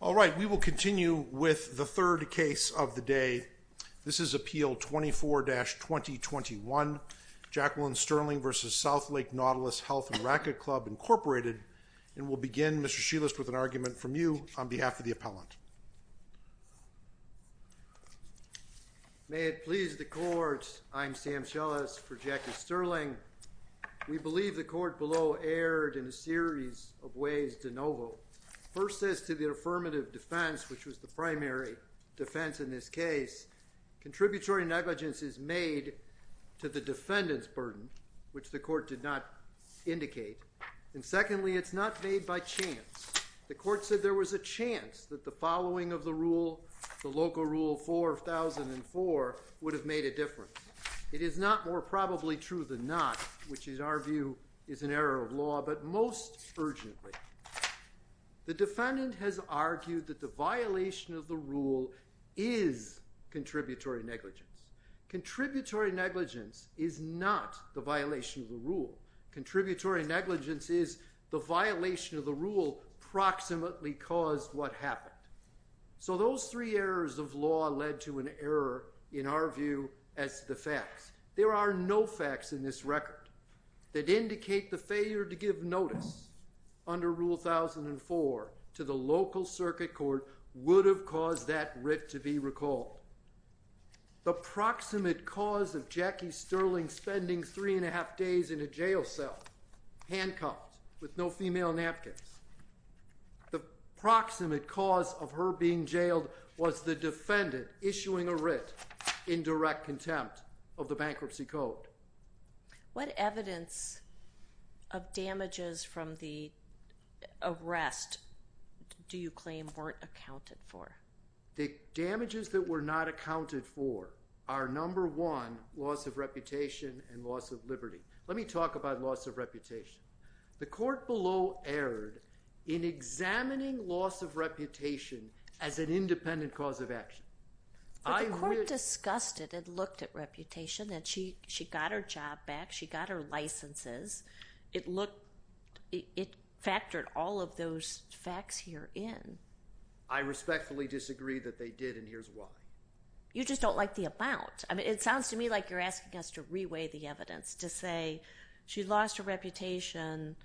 All right, we will continue with the third case of the day. This is Appeal 24-2021, Jacqueline Sterling v. Southlake Nautilus Health & Racket Club, Incorporated. And we'll begin, Mr. Shelest, with an argument from you on behalf of the appellant. May it please the court, I'm Sam Shelest for Jackie Sterling. We believe the court below erred in a series of ways de novo. First, as to the affirmative defense, which was the primary defense in this case, contributory negligence is made to the defendant's burden, which the court did not indicate. And secondly, it's not made by chance. The court said there was a chance that the following of the rule, the local rule 4004, would have made a difference. It is not more probably true than not, which in our view is an error of law, but most urgently, the defendant has argued that the violation of the rule is contributory negligence. Contributory negligence is not the violation of the rule. Contributory negligence is the violation of the rule proximately caused what happened. So those three errors of law led to an error, in our view, as the facts. There are no facts in this record that indicate the failure to give notice under rule 1004 to the local circuit court would have caused that writ to be recalled. The proximate cause of Jackie Sterling spending three and a half days in a jail cell, handcuffed with no female napkins, the proximate cause of her being jailed was the defendant issuing a writ in direct contempt of the bankruptcy code. What evidence of damages from the arrest do you claim weren't accounted for? The damages that were not accounted for are number one, loss of reputation and loss of liberty. Let me talk about loss of reputation. The court below in examining loss of reputation as an independent cause of action. But the court discussed it and looked at reputation and she got her job back, she got her licenses. It factored all of those facts here in. I respectfully disagree that they did and here's why. You just don't like the amount. I mean, it sounds to me like you're asking us to reweigh the evidence to say she lost her reputation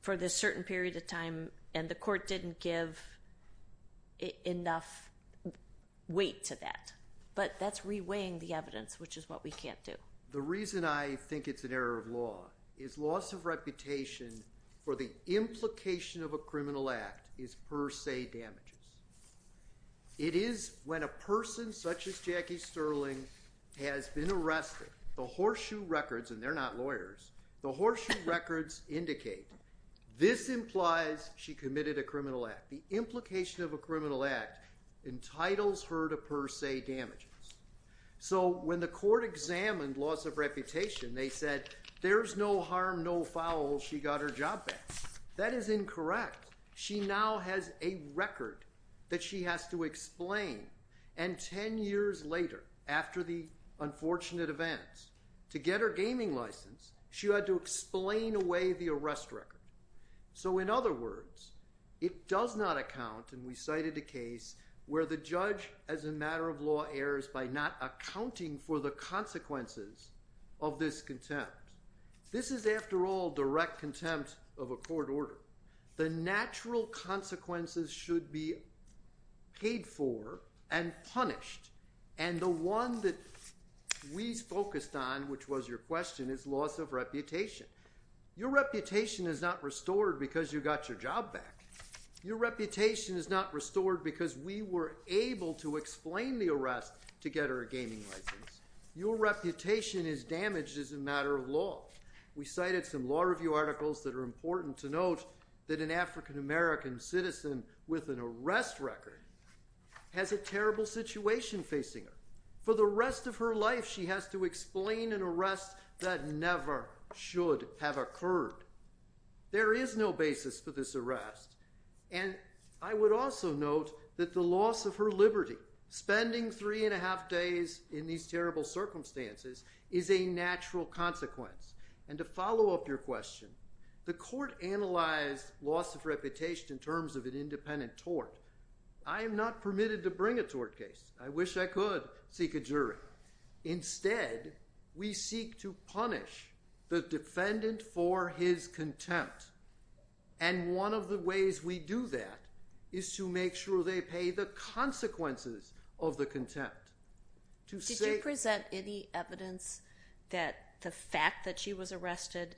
for this certain period of time and the court didn't give enough weight to that. But that's reweighing the evidence, which is what we can't do. The reason I think it's an error of law is loss of reputation for the implication of a criminal act is per se damages. It is when a person such as Jackie Sterling has been arrested, the horseshoe records, and they're not lawyers, the horseshoe records indicate this implies she committed a criminal act. The implication of a criminal act entitles her to per se damages. So when the court examined loss of reputation, they said there's no harm, no foul, she got her job back. That is incorrect. She now has a record that she has to explain and 10 years later, after the unfortunate events, to get her gaming license, she had to explain away the arrest record. So in other words, it does not account, and we cited a case where the judge as a matter of law errors by not accounting for the consequences of this contempt. This is, after all, direct contempt of a court order. The natural consequences should be paid for and punished. And the one that we focused on, which was your question, is loss of reputation. Your reputation is not restored because you got your job back. Your reputation is not restored because we were able to explain the arrest to get her a gaming license. Your reputation is damaged as a matter of law. We cited some law review articles that are important to note that an African American citizen with an arrest record has a terrible situation facing her. For the rest of her life, she has to explain an arrest that never should have occurred. There is no basis for this arrest. And I would also note that the loss of her liberty, spending three and a half days in these terrible circumstances, is a natural consequence. And to follow up your question, the court analyzed loss of reputation in terms of an independent tort. I am not permitted to bring a tort case. I wish I could seek a jury. Instead, we seek to punish the defendant for his contempt. And one of the ways we do that is to make sure they pay the consequences of the contempt. Did you present any evidence that the fact that she was arrested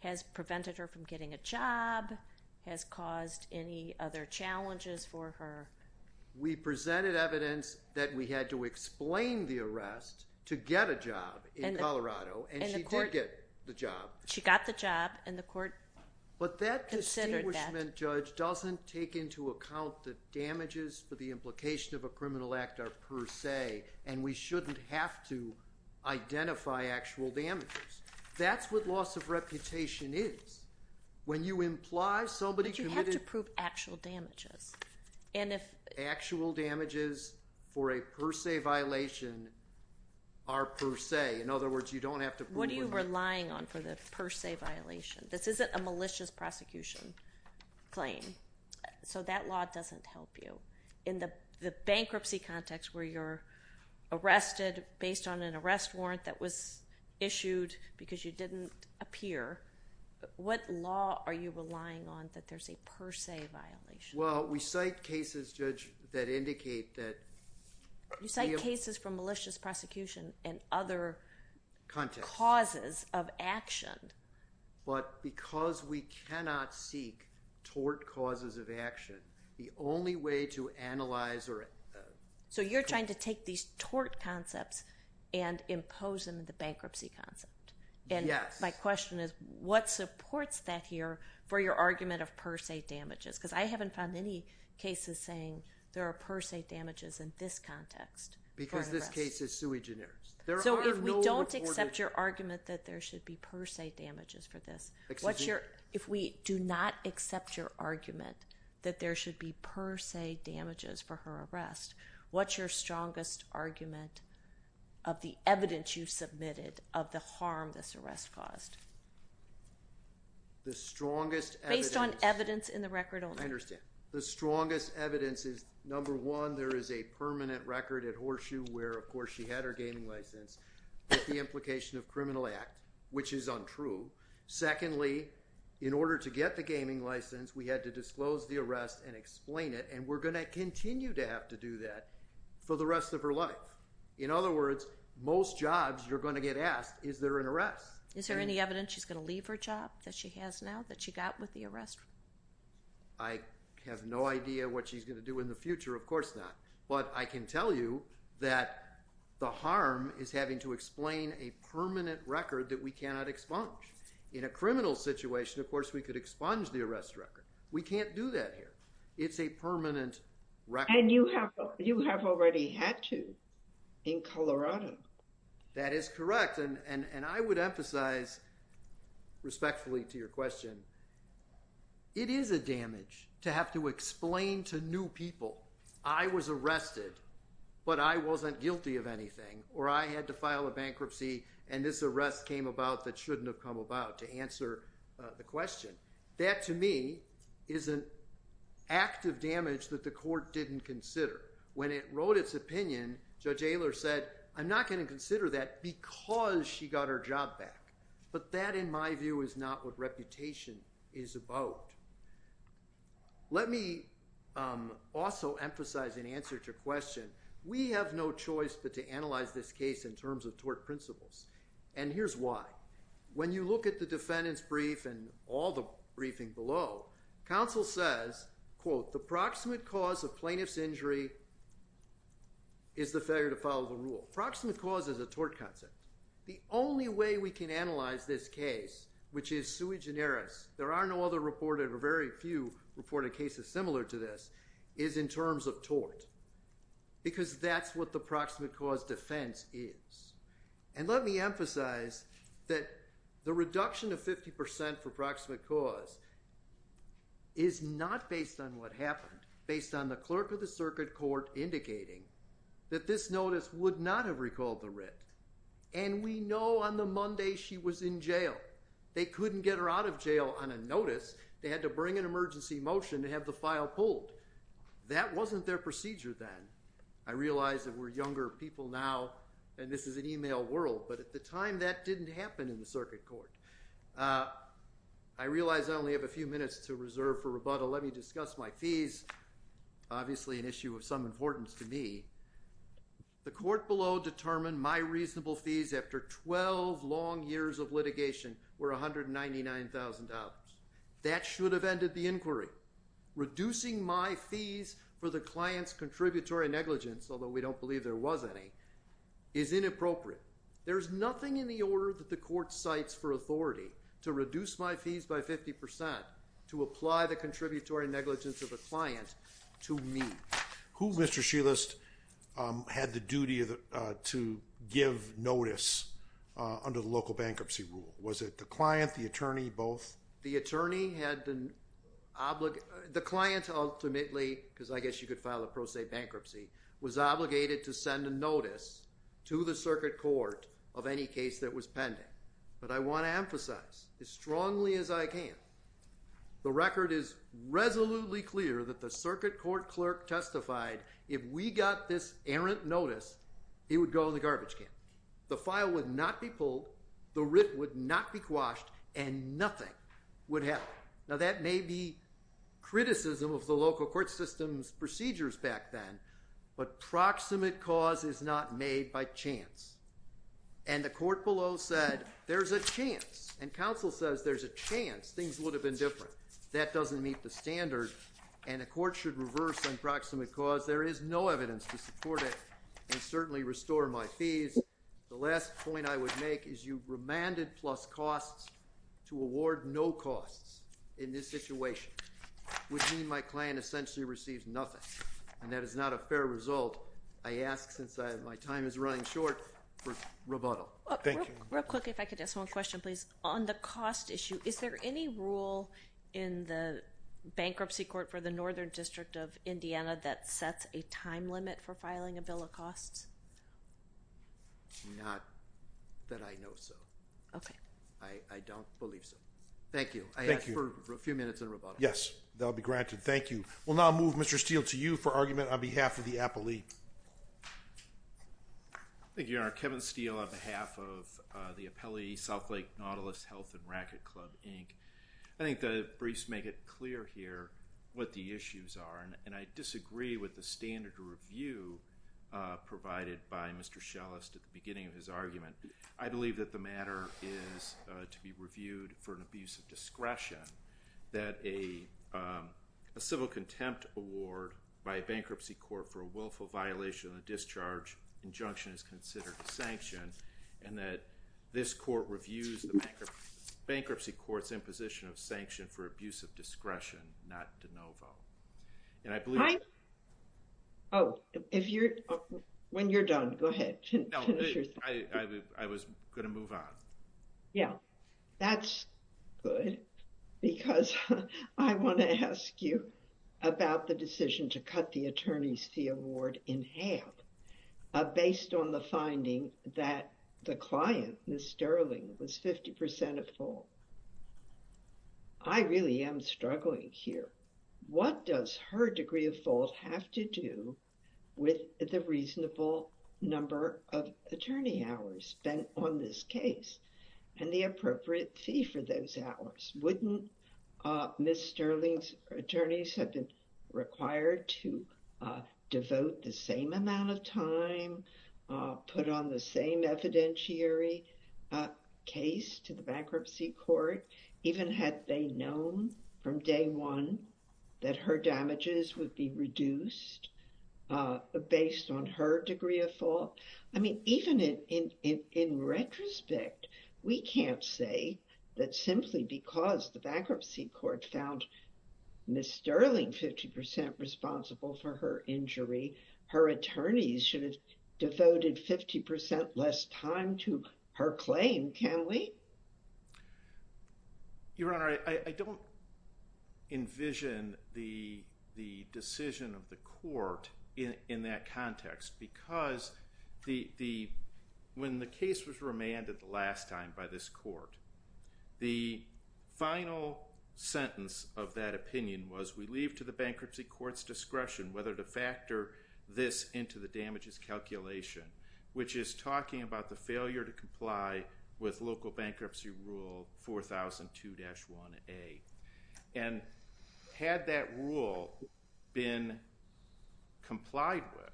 has prevented her from getting a job, has caused any other challenges for her? We presented evidence that we had to explain the arrest to get a job in Colorado, and she did get the job. She got the job, and the court considered that. But that distinguishment, Judge, doesn't take into account the damages for the implication of a criminal act are per se, and we shouldn't have to identify actual damages. That's what loss of reputation is. When you imply somebody committed... But you have to prove actual damages. And if... Actual damages for a per se violation are per se. In other words, you don't have to prove... What are you relying on for the per se violation? This isn't a malicious prosecution claim. So that law doesn't help you. In the bankruptcy context where you're arrested based on an arrest warrant that was issued because you didn't appear, what law are you relying on that there's a per se violation? Well, we cite cases, Judge, that indicate that... You cite cases from malicious prosecution and other causes of action. But because we cannot seek tort causes of action, the only way to analyze... So you're trying to take these tort concepts and impose them in the bankruptcy concept. And my question is, what supports that here for your argument of per se damages? Because I haven't found any cases saying there are per se damages in this context. Because this case is sui generis. So if we don't accept your argument that there should be per se damages for this, what's your... If we do not accept your argument that there should be per se damages for her arrest, what's your strongest argument of the evidence you submitted of the harm this arrest caused? The strongest evidence... Based on evidence in the record only. I understand. The strongest evidence is, number one, there is a permanent record at Horseshoe where, of course, she had her gaming license with the implication of criminal act, which is untrue. Secondly, in order to get the gaming license, we had to disclose the arrest and explain it. And we're going to continue to have to do that for the rest of her life. In other words, most jobs you're going to get asked, is there an arrest? Is there any evidence she's going to leave her job that she has now, that she got with the arrest? I have no idea what she's going to do in the future. Of course not. But I can tell you that the harm is having to explain a permanent record that we cannot expunge. In a criminal situation, of course, we could expunge the arrest record. We can't do that here. It's a permanent record. And you have already had to in Colorado. That is correct. And I would emphasize, respectfully to your question, it is a damage to have to explain to new people, I was arrested, but I wasn't guilty of anything, or I had to file a bankruptcy, and this arrest came about that shouldn't have come about, to answer the question. That, to me, is an act of damage that the court didn't consider. When it wrote its opinion, Judge Aylor said, I'm not going to consider that because she got her job back. But that, in my view, is not what reputation is about. Let me also emphasize in answer to your question, it is a breach of the court's principle to analyze this case in terms of tort principles. And here's why. When you look at the defendant's brief and all the briefing below, counsel says, the proximate cause of plaintiff's injury is the failure to follow the rule. Proximate cause is a tort concept. The only way we can analyze this case, which is sui generis, there are no other reported or very few reported cases similar to this, is in terms of tort, because that's what proximate cause defense is. And let me emphasize that the reduction of 50% for proximate cause is not based on what happened, based on the clerk of the circuit court indicating that this notice would not have recalled the writ. And we know on the Monday she was in jail. They couldn't get her out of jail on a notice. They had to bring an emergency motion to have the file pulled. That wasn't their procedure then. I realize that we're younger people now, and this is an email world, but at the time that didn't happen in the circuit court. I realize I only have a few minutes to reserve for rebuttal. Let me discuss my fees, obviously an issue of some importance to me. The court below determined my reasonable fees after 12 long years of litigation were $199,000. That should have ended the inquiry. Reducing my fees for the client's contributory negligence, although we don't believe there was any, is inappropriate. There's nothing in the order that the court cites for authority to reduce my fees by 50% to apply the contributory negligence of the client to me. Who, Mr. Shelest, had the duty to give notice under the local bankruptcy rule? Was it the client, the attorney, both? The attorney had to obligate, the client ultimately, because I guess you could file a pro se bankruptcy, was obligated to send a notice to the circuit court of any case that was pending. But I want to emphasize as strongly as I can, the record is resolutely clear that the circuit court clerk testified if we got this errant notice he would go in the garbage can. The file would not be pulled, the writ would not be quashed, and nothing would happen. Now that may be criticism of the local court system's procedures back then, but proximate cause is not made by chance. And the court below said there's a chance, and counsel says there's a chance things would have been different. That doesn't meet the standard and the court should reverse on proximate cause. There is no evidence to support it and certainly restore my fees. The last point I would make is you remanded plus costs to award no costs in this situation, which means my client essentially receives nothing. And that is not a fair result, I ask, since my time is running short, for rebuttal. Thank you. Real quick, if I could ask one question, please. On the cost issue, is there any rule in the bankruptcy court for the Northern District of Indiana that sets a time limit for filing a bill of costs? Not that I know so. Okay. I don't believe so. Thank you. Thank you. I ask for a few minutes of rebuttal. Yes, that'll be granted. Thank you. We'll now move Mr. Steele to you for argument on behalf of the appellee. Thank you, Your Honor. Kevin Steele on behalf of the appellee, South Nautilus Health and Racquet Club, Inc. I think the briefs make it clear here what the issues are, and I disagree with the standard review provided by Mr. Schellest at the beginning of his argument. I believe that the matter is to be reviewed for an abuse of discretion, that a civil contempt award by a bankruptcy court for a willful violation of the discharge injunction is considered a sanction, and that this court reviews the bankruptcy court's imposition of sanction for abuse of discretion, not de novo. And I believe... Oh, if you're... When you're done, go ahead. No, I was going to move on. Yeah. That's good because I want to ask you about the decision to cut the attorney's fee award in half based on the finding that the client, Ms. Sterling, was 50% of fault. I really am struggling here. What does her degree of fault have to do with the reasonable number of attorney hours spent on this case and the appropriate fee for those hours? Wouldn't Ms. Sterling's attorneys have been required to devote the same amount of time, put on the same evidentiary case to the bankruptcy court, even had they known from day one that her damages would be reduced based on her degree of fault? I mean, even in retrospect, we can't say that simply because the bankruptcy court found Ms. Sterling 50% responsible for her injury, her attorneys should have devoted 50% less time to her claim, can we? Your Honor, I don't envision the decision of the court in that context because when the case was remanded the last time by this court, the final sentence of that opinion was, we leave to the bankruptcy court's discretion whether to factor this into the damages calculation, which is talking about the failure to comply with local bankruptcy rule 4002-1A. And had that rule been complied with,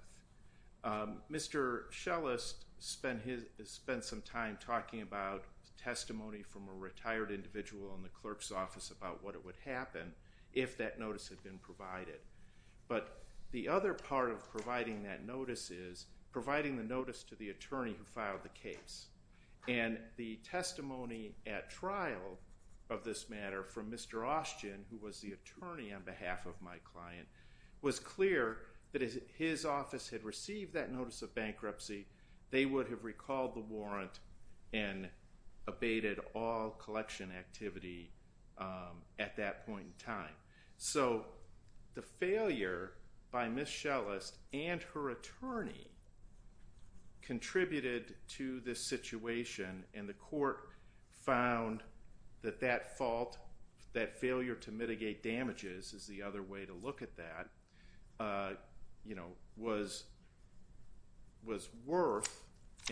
Mr. Schellest spent some time talking about testimony from a retired individual in the clerk's office about what would happen if that notice had been provided. But the other part of providing that notice is providing the attorney who filed the case. And the testimony at trial of this matter from Mr. Austgen, who was the attorney on behalf of my client, was clear that if his office had received that notice of bankruptcy, they would have recalled the warrant and abated all collection activity at that point in time. So the failure by Ms. Schellest and her attorney contributed to this situation, and the court found that that fault, that failure to mitigate damages is the other way to look at that, was worth,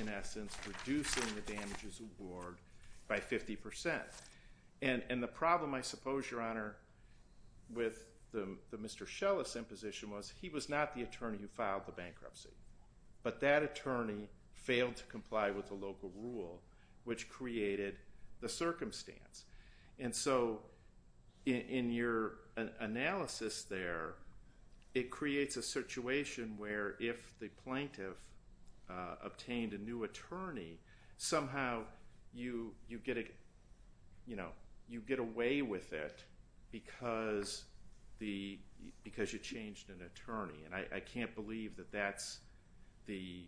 in essence, reducing the damages award by 50%. And the problem, I suppose, Your Honor, with the Mr. Schellest imposition was he was not the attorney who filed the bankruptcy. But that attorney failed to comply with the local rule, which created the circumstance. And so in your analysis there, it creates a situation where if the plaintiff obtained a new attorney, somehow you get away with it because you changed an attorney. And I can't believe that that's the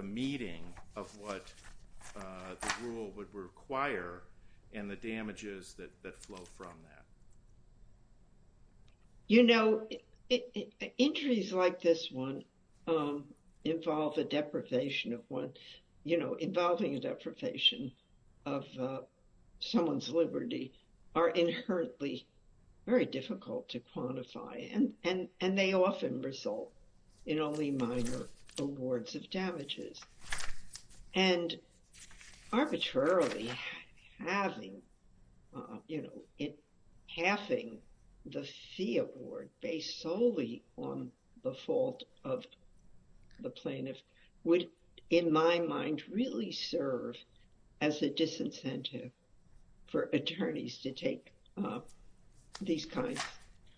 meeting of what the rule would require and the damages that flow from that. You know, injuries like this one involve a deprivation of one, you know, involving a deprivation of someone's liberty are inherently very difficult to quantify, and they often result in only minor awards of damages. And arbitrarily having, you know, halving the fee award based solely on the fault of the plaintiff would, in my mind, really serve as a disincentive for attorneys to take these kinds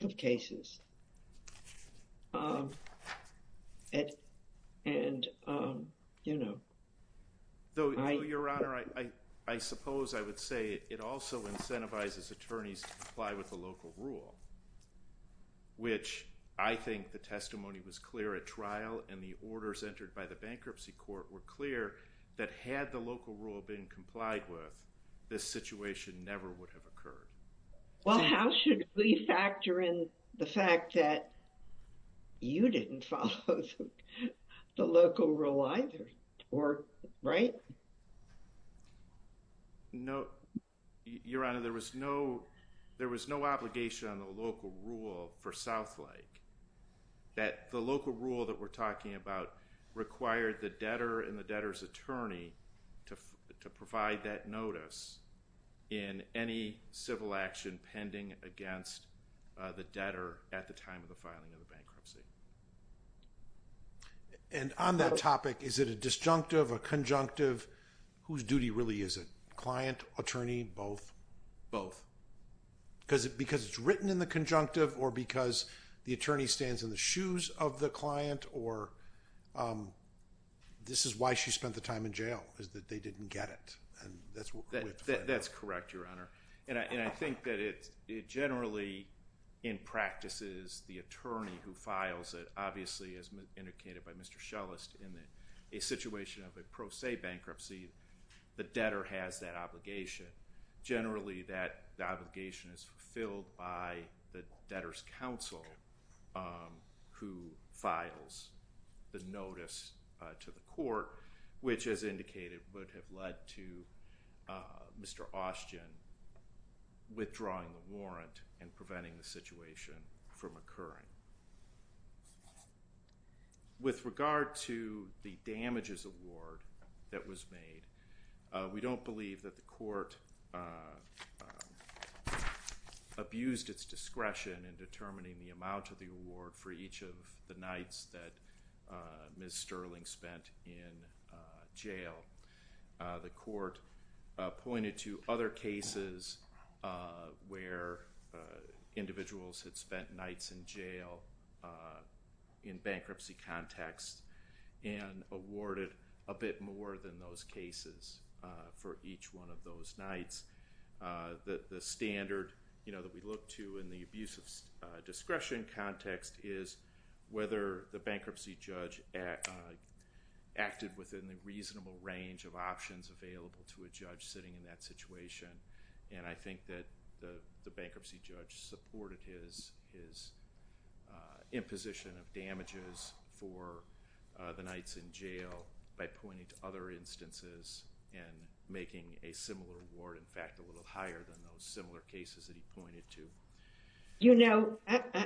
of cases. And, you know, I... Though, Your Honor, I suppose I would say it also incentivizes attorneys to comply with the local rule, which I think the testimony was clear at trial and the orders entered by the bankruptcy court were clear that had the local rule been complied with, this situation never would have occurred. Well, how should we factor in the fact that you didn't follow the local rule either, or... right? No, Your Honor, there was no obligation on the local rule for Southlake that the local rule that we're talking about required the debtor and the debtor's attorney to provide that notice in any civil action pending against the debtor at the time of the filing of the bankruptcy. And on that topic, is it a disjunctive, a conjunctive? Whose duty really is it? Client, attorney, both? Both. Because it's written in the conjunctive or the attorney stands in the shoes of the client or this is why she spent the time in jail, is that they didn't get it. That's correct, Your Honor. And I think that it generally, in practice, is the attorney who files it. Obviously, as indicated by Mr. Schellest, in a situation of a pro se bankruptcy, the debtor has that obligation. Generally, that obligation is fulfilled by the debtor's counsel who files the notice to the court, which, as indicated, would have led to Mr. Austin withdrawing the warrant and preventing the situation from occurring. With regard to the damages award that was made, we don't believe that the court abused its discretion in determining the amount of the award for each of the nights that Ms. Sterling spent in jail. The court pointed to other cases where individuals had spent nights in jail in bankruptcy context and awarded a bit more than those cases for each nights. The standard that we look to in the abuse of discretion context is whether the bankruptcy judge acted within the reasonable range of options available to a judge sitting in that situation. I think that the bankruptcy judge supported his imposition of damages for the nights in jail by pointing to other instances and making a similar award, in fact, a little higher than those similar cases that he pointed to. You know,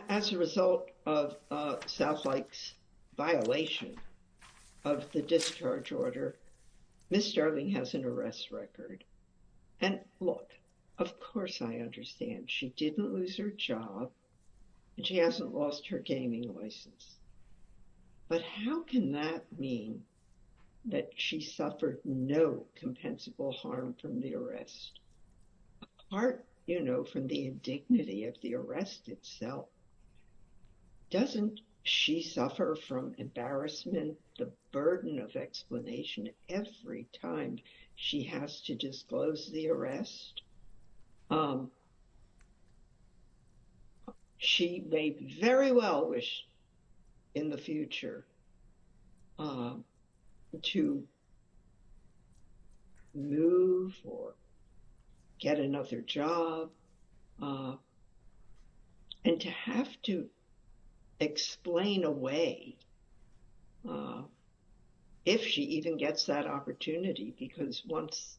as a result of Southlake's violation of the discharge order, Ms. Sterling has an arrest record. And look, of course I understand, she didn't lose her job and she hasn't lost her gaming license. But how can that mean that she suffered no compensable harm from the arrest? Apart, you know, from the indignity of the arrest itself, doesn't she suffer from embarrassment, the burden of explanation every time she has to disclose the arrest? She may very well wish in the future to move or get another job and to have to explain away if she even gets that opportunity, because once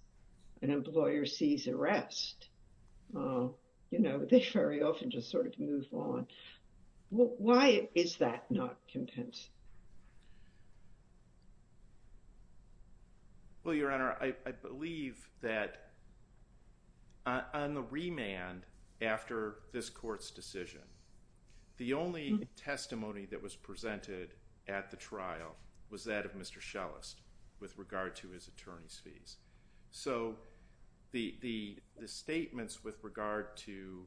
an employer sees arrest, you know, they very often just sort of move on. Why is that not compensable? Well, Your Honor, I believe that on the remand after this court's decision, the only testimony that was presented at the trial was that of Mr. Schellest with regard to his attorney's fees. So the statements with regard to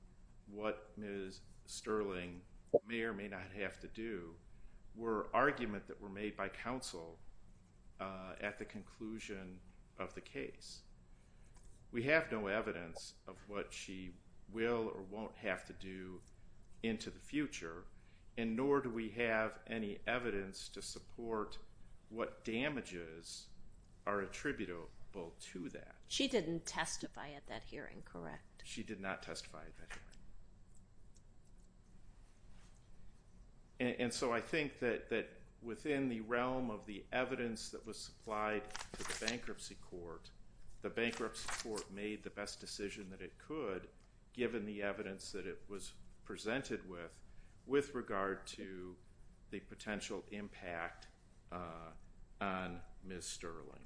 what Ms. Sterling may or may not have to do were argument that were made by counsel at the conclusion of the case. We have no evidence of what she will or won't have to do into the future, and nor do we have any evidence to support what damages are attributable to that. She didn't testify at that hearing, correct? She did not testify at that hearing. And so I think that within the realm of the evidence that supplied to the bankruptcy court, the bankruptcy court made the best decision that it could, given the evidence that it was presented with, with regard to the potential impact on Ms. Sterling.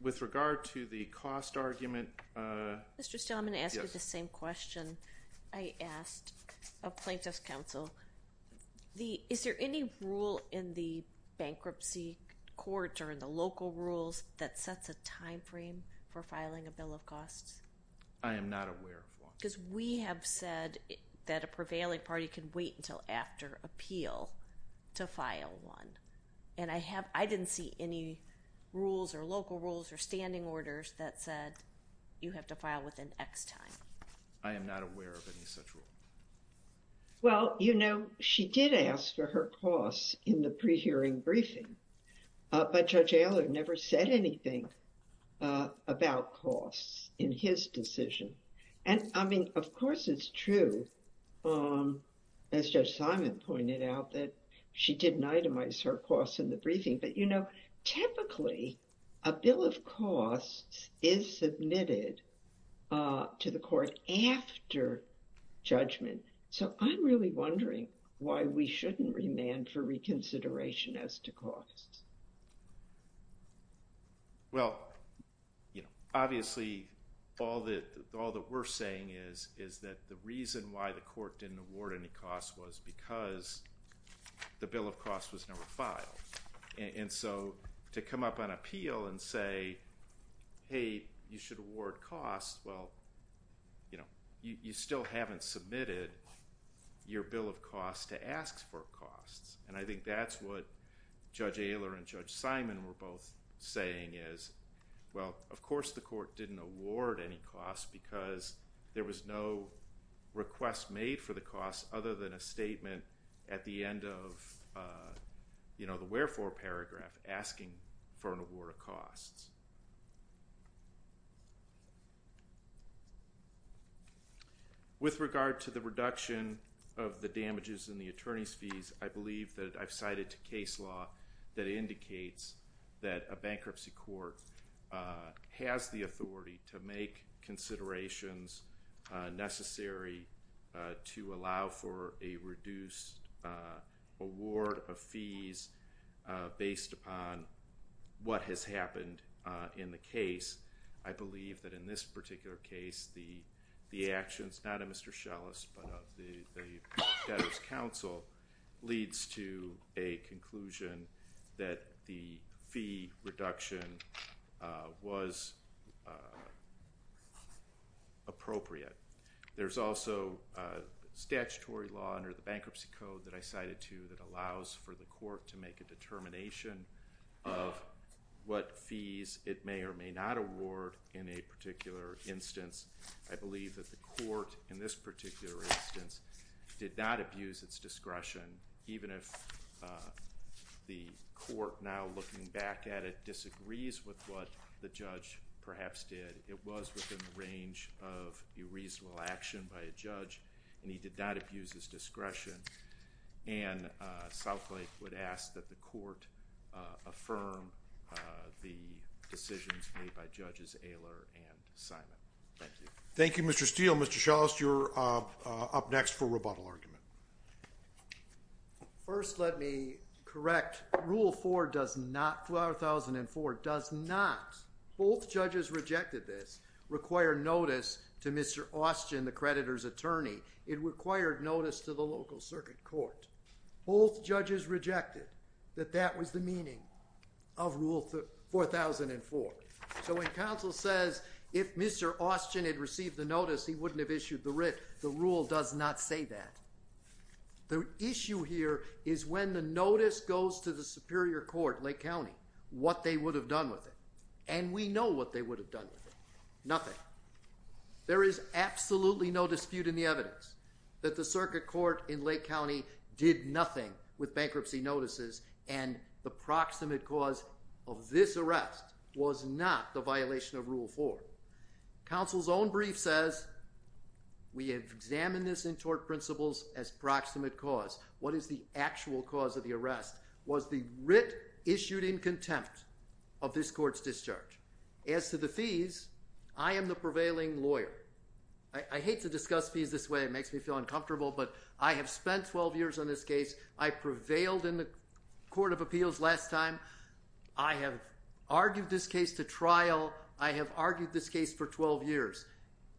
With regard to the cost argument... Mr. Stelman asked the same question I asked of plaintiff's counsel. Is there any rule in the bankruptcy court or in the local rules that sets a time frame for filing a bill of costs? I am not aware of one. Because we have said that a prevailing party can wait until after appeal to file one. And I didn't see any rules or local rules or standing orders that said you have to file within X time. I am not aware of any such rule. Well, you know, she did ask for her costs in the pre-hearing briefing, but Judge Allard never said anything about costs in his decision. And I mean, of course it's true, as Judge Simon pointed out, that she didn't itemize her costs in the briefing. But, you know, typically a bill of costs is submitted to the court after judgment. So I'm really wondering why we shouldn't remand for reconsideration as to costs. Well, you know, obviously all that we're saying is that the why the court didn't award any costs was because the bill of costs was never filed. And so to come up on appeal and say, hey, you should award costs, well, you know, you still haven't submitted your bill of costs to ask for costs. And I think that's what Judge Allard and Judge Simon were both saying is, well, of course the court didn't award any costs because there was no request made for the costs other than a statement at the end of, you know, the wherefore paragraph asking for an award of costs. With regard to the reduction of the damages in the attorney's fees, I believe that I've cited to case law that indicates that a bankruptcy court has the authority to make considerations necessary to allow for a reduced award of fees based upon what has happened in the case. I believe that in this particular case, the actions, not of Mr. Schellis, but of the debtors counsel leads to a conclusion that the fee reduction was appropriate. There's also statutory law under the bankruptcy code that I cited to that allows for the court to make a determination of what fees it may or may not award in a particular instance. I believe that the court in this particular instance did not abuse its discretion, even if the court now looking back at it disagrees with what the judge perhaps did. It was within the range of a reasonable action by a judge, and he did not abuse his discretion. And Southlake would ask that the court affirm the decisions made by judges Aylor and Simon. Thank you. Thank you, Mr. Steele. Mr. Schellis, you're up next for rebuttal argument. First, let me correct. Rule four does not, four thousand and four does not, both judges rejected this, require notice to Mr. Austin, the creditor's attorney. It required notice to the local circuit court. Both judges rejected that that was the meaning of rule four thousand and four. So when counsel says, if Mr. Austin had received the notice, he wouldn't have issued the writ. The rule does not say that. The issue here is when the notice goes to the Superior Court, Lake County, what they would have done with it. And we know what they would have done with it. Nothing. There is absolutely no dispute in the evidence that the circuit court in Lake County did nothing with bankruptcy notices and the proximate cause of this arrest was not the violation of rule four. Counsel's own brief says we have examined this in tort principles as proximate cause. What is the actual cause of the arrest? Was the writ issued in contempt of this court's discharge? As to the fees, I am the prevailing lawyer. I hate to discuss fees this way. It makes me feel uncomfortable. But I have spent 12 years on this case. I prevailed in the Court of Appeals last time. I have argued this case to trial. I have argued this case for 12 years.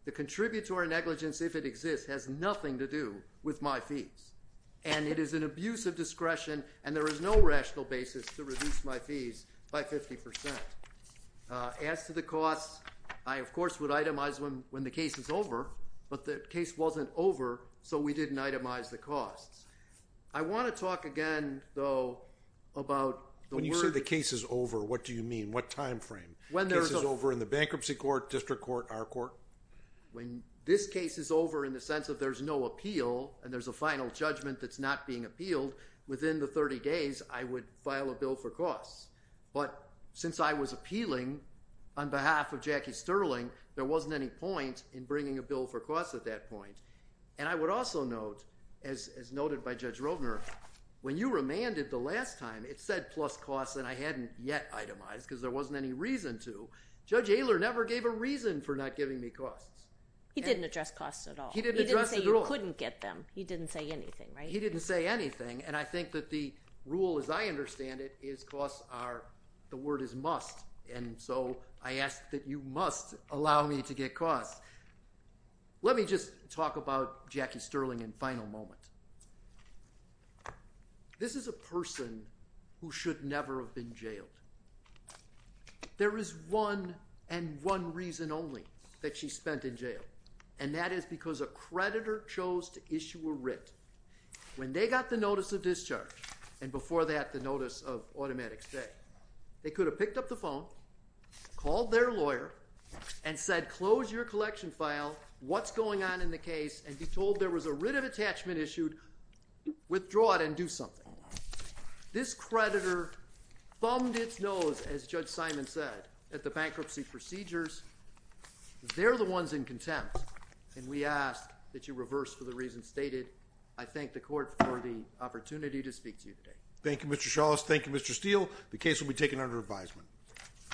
The contributory negligence, if it exists, has nothing to do with my fees. And it is an abuse of discretion. And there is no rational basis to reduce my fees by 50 percent. As to the costs, I, of course, would itemize them when the case is over. But the case wasn't over, so we didn't itemize the costs. I want to talk again, though, about the word... When you say the case is over, what do you mean? What time frame? When there's a... The case is over in the bankruptcy court, district court, our court? When this case is over in the sense that there's no appeal and there's a final judgment that's not being appealed, within the 30 days, I would file a bill for costs. But since I was appealing on behalf of Jackie Sterling, there wasn't any point in bringing a bill for costs at that point. And I would also note, as noted by Judge Roedner, when you remanded the last time, it said plus costs, and I hadn't yet itemized because there wasn't any reason to. Judge Ayler never gave a reason for not giving me costs. He didn't address costs at all. He didn't address it at all. He didn't say you couldn't get them. He didn't say anything, right? He didn't say anything. And I think that the rule, as I understand it, is costs are... The word is must, and so I ask that you must allow me to get costs. Let me just talk about Jackie Sterling in final moment. This is a person who should never have been jailed. There is one and one reason only that she spent in jail, and that is because a creditor chose to issue a writ when they got the notice of discharge, and before that, the notice of automatic stay. They could have picked up the phone, called their lawyer, and said, close your collection file. What's going on in the case? And be told there was a writ of attachment issued. Withdraw it and do something. This creditor thumbed its nose, as Judge Simon said, at the bankruptcy procedures. They're the ones in contempt, and we ask that you reverse for the reasons stated. I thank the court for the opportunity to speak to you today. Thank you, Mr. Shawless. Thank you, Mr. Steele. The case will be taken under advisement.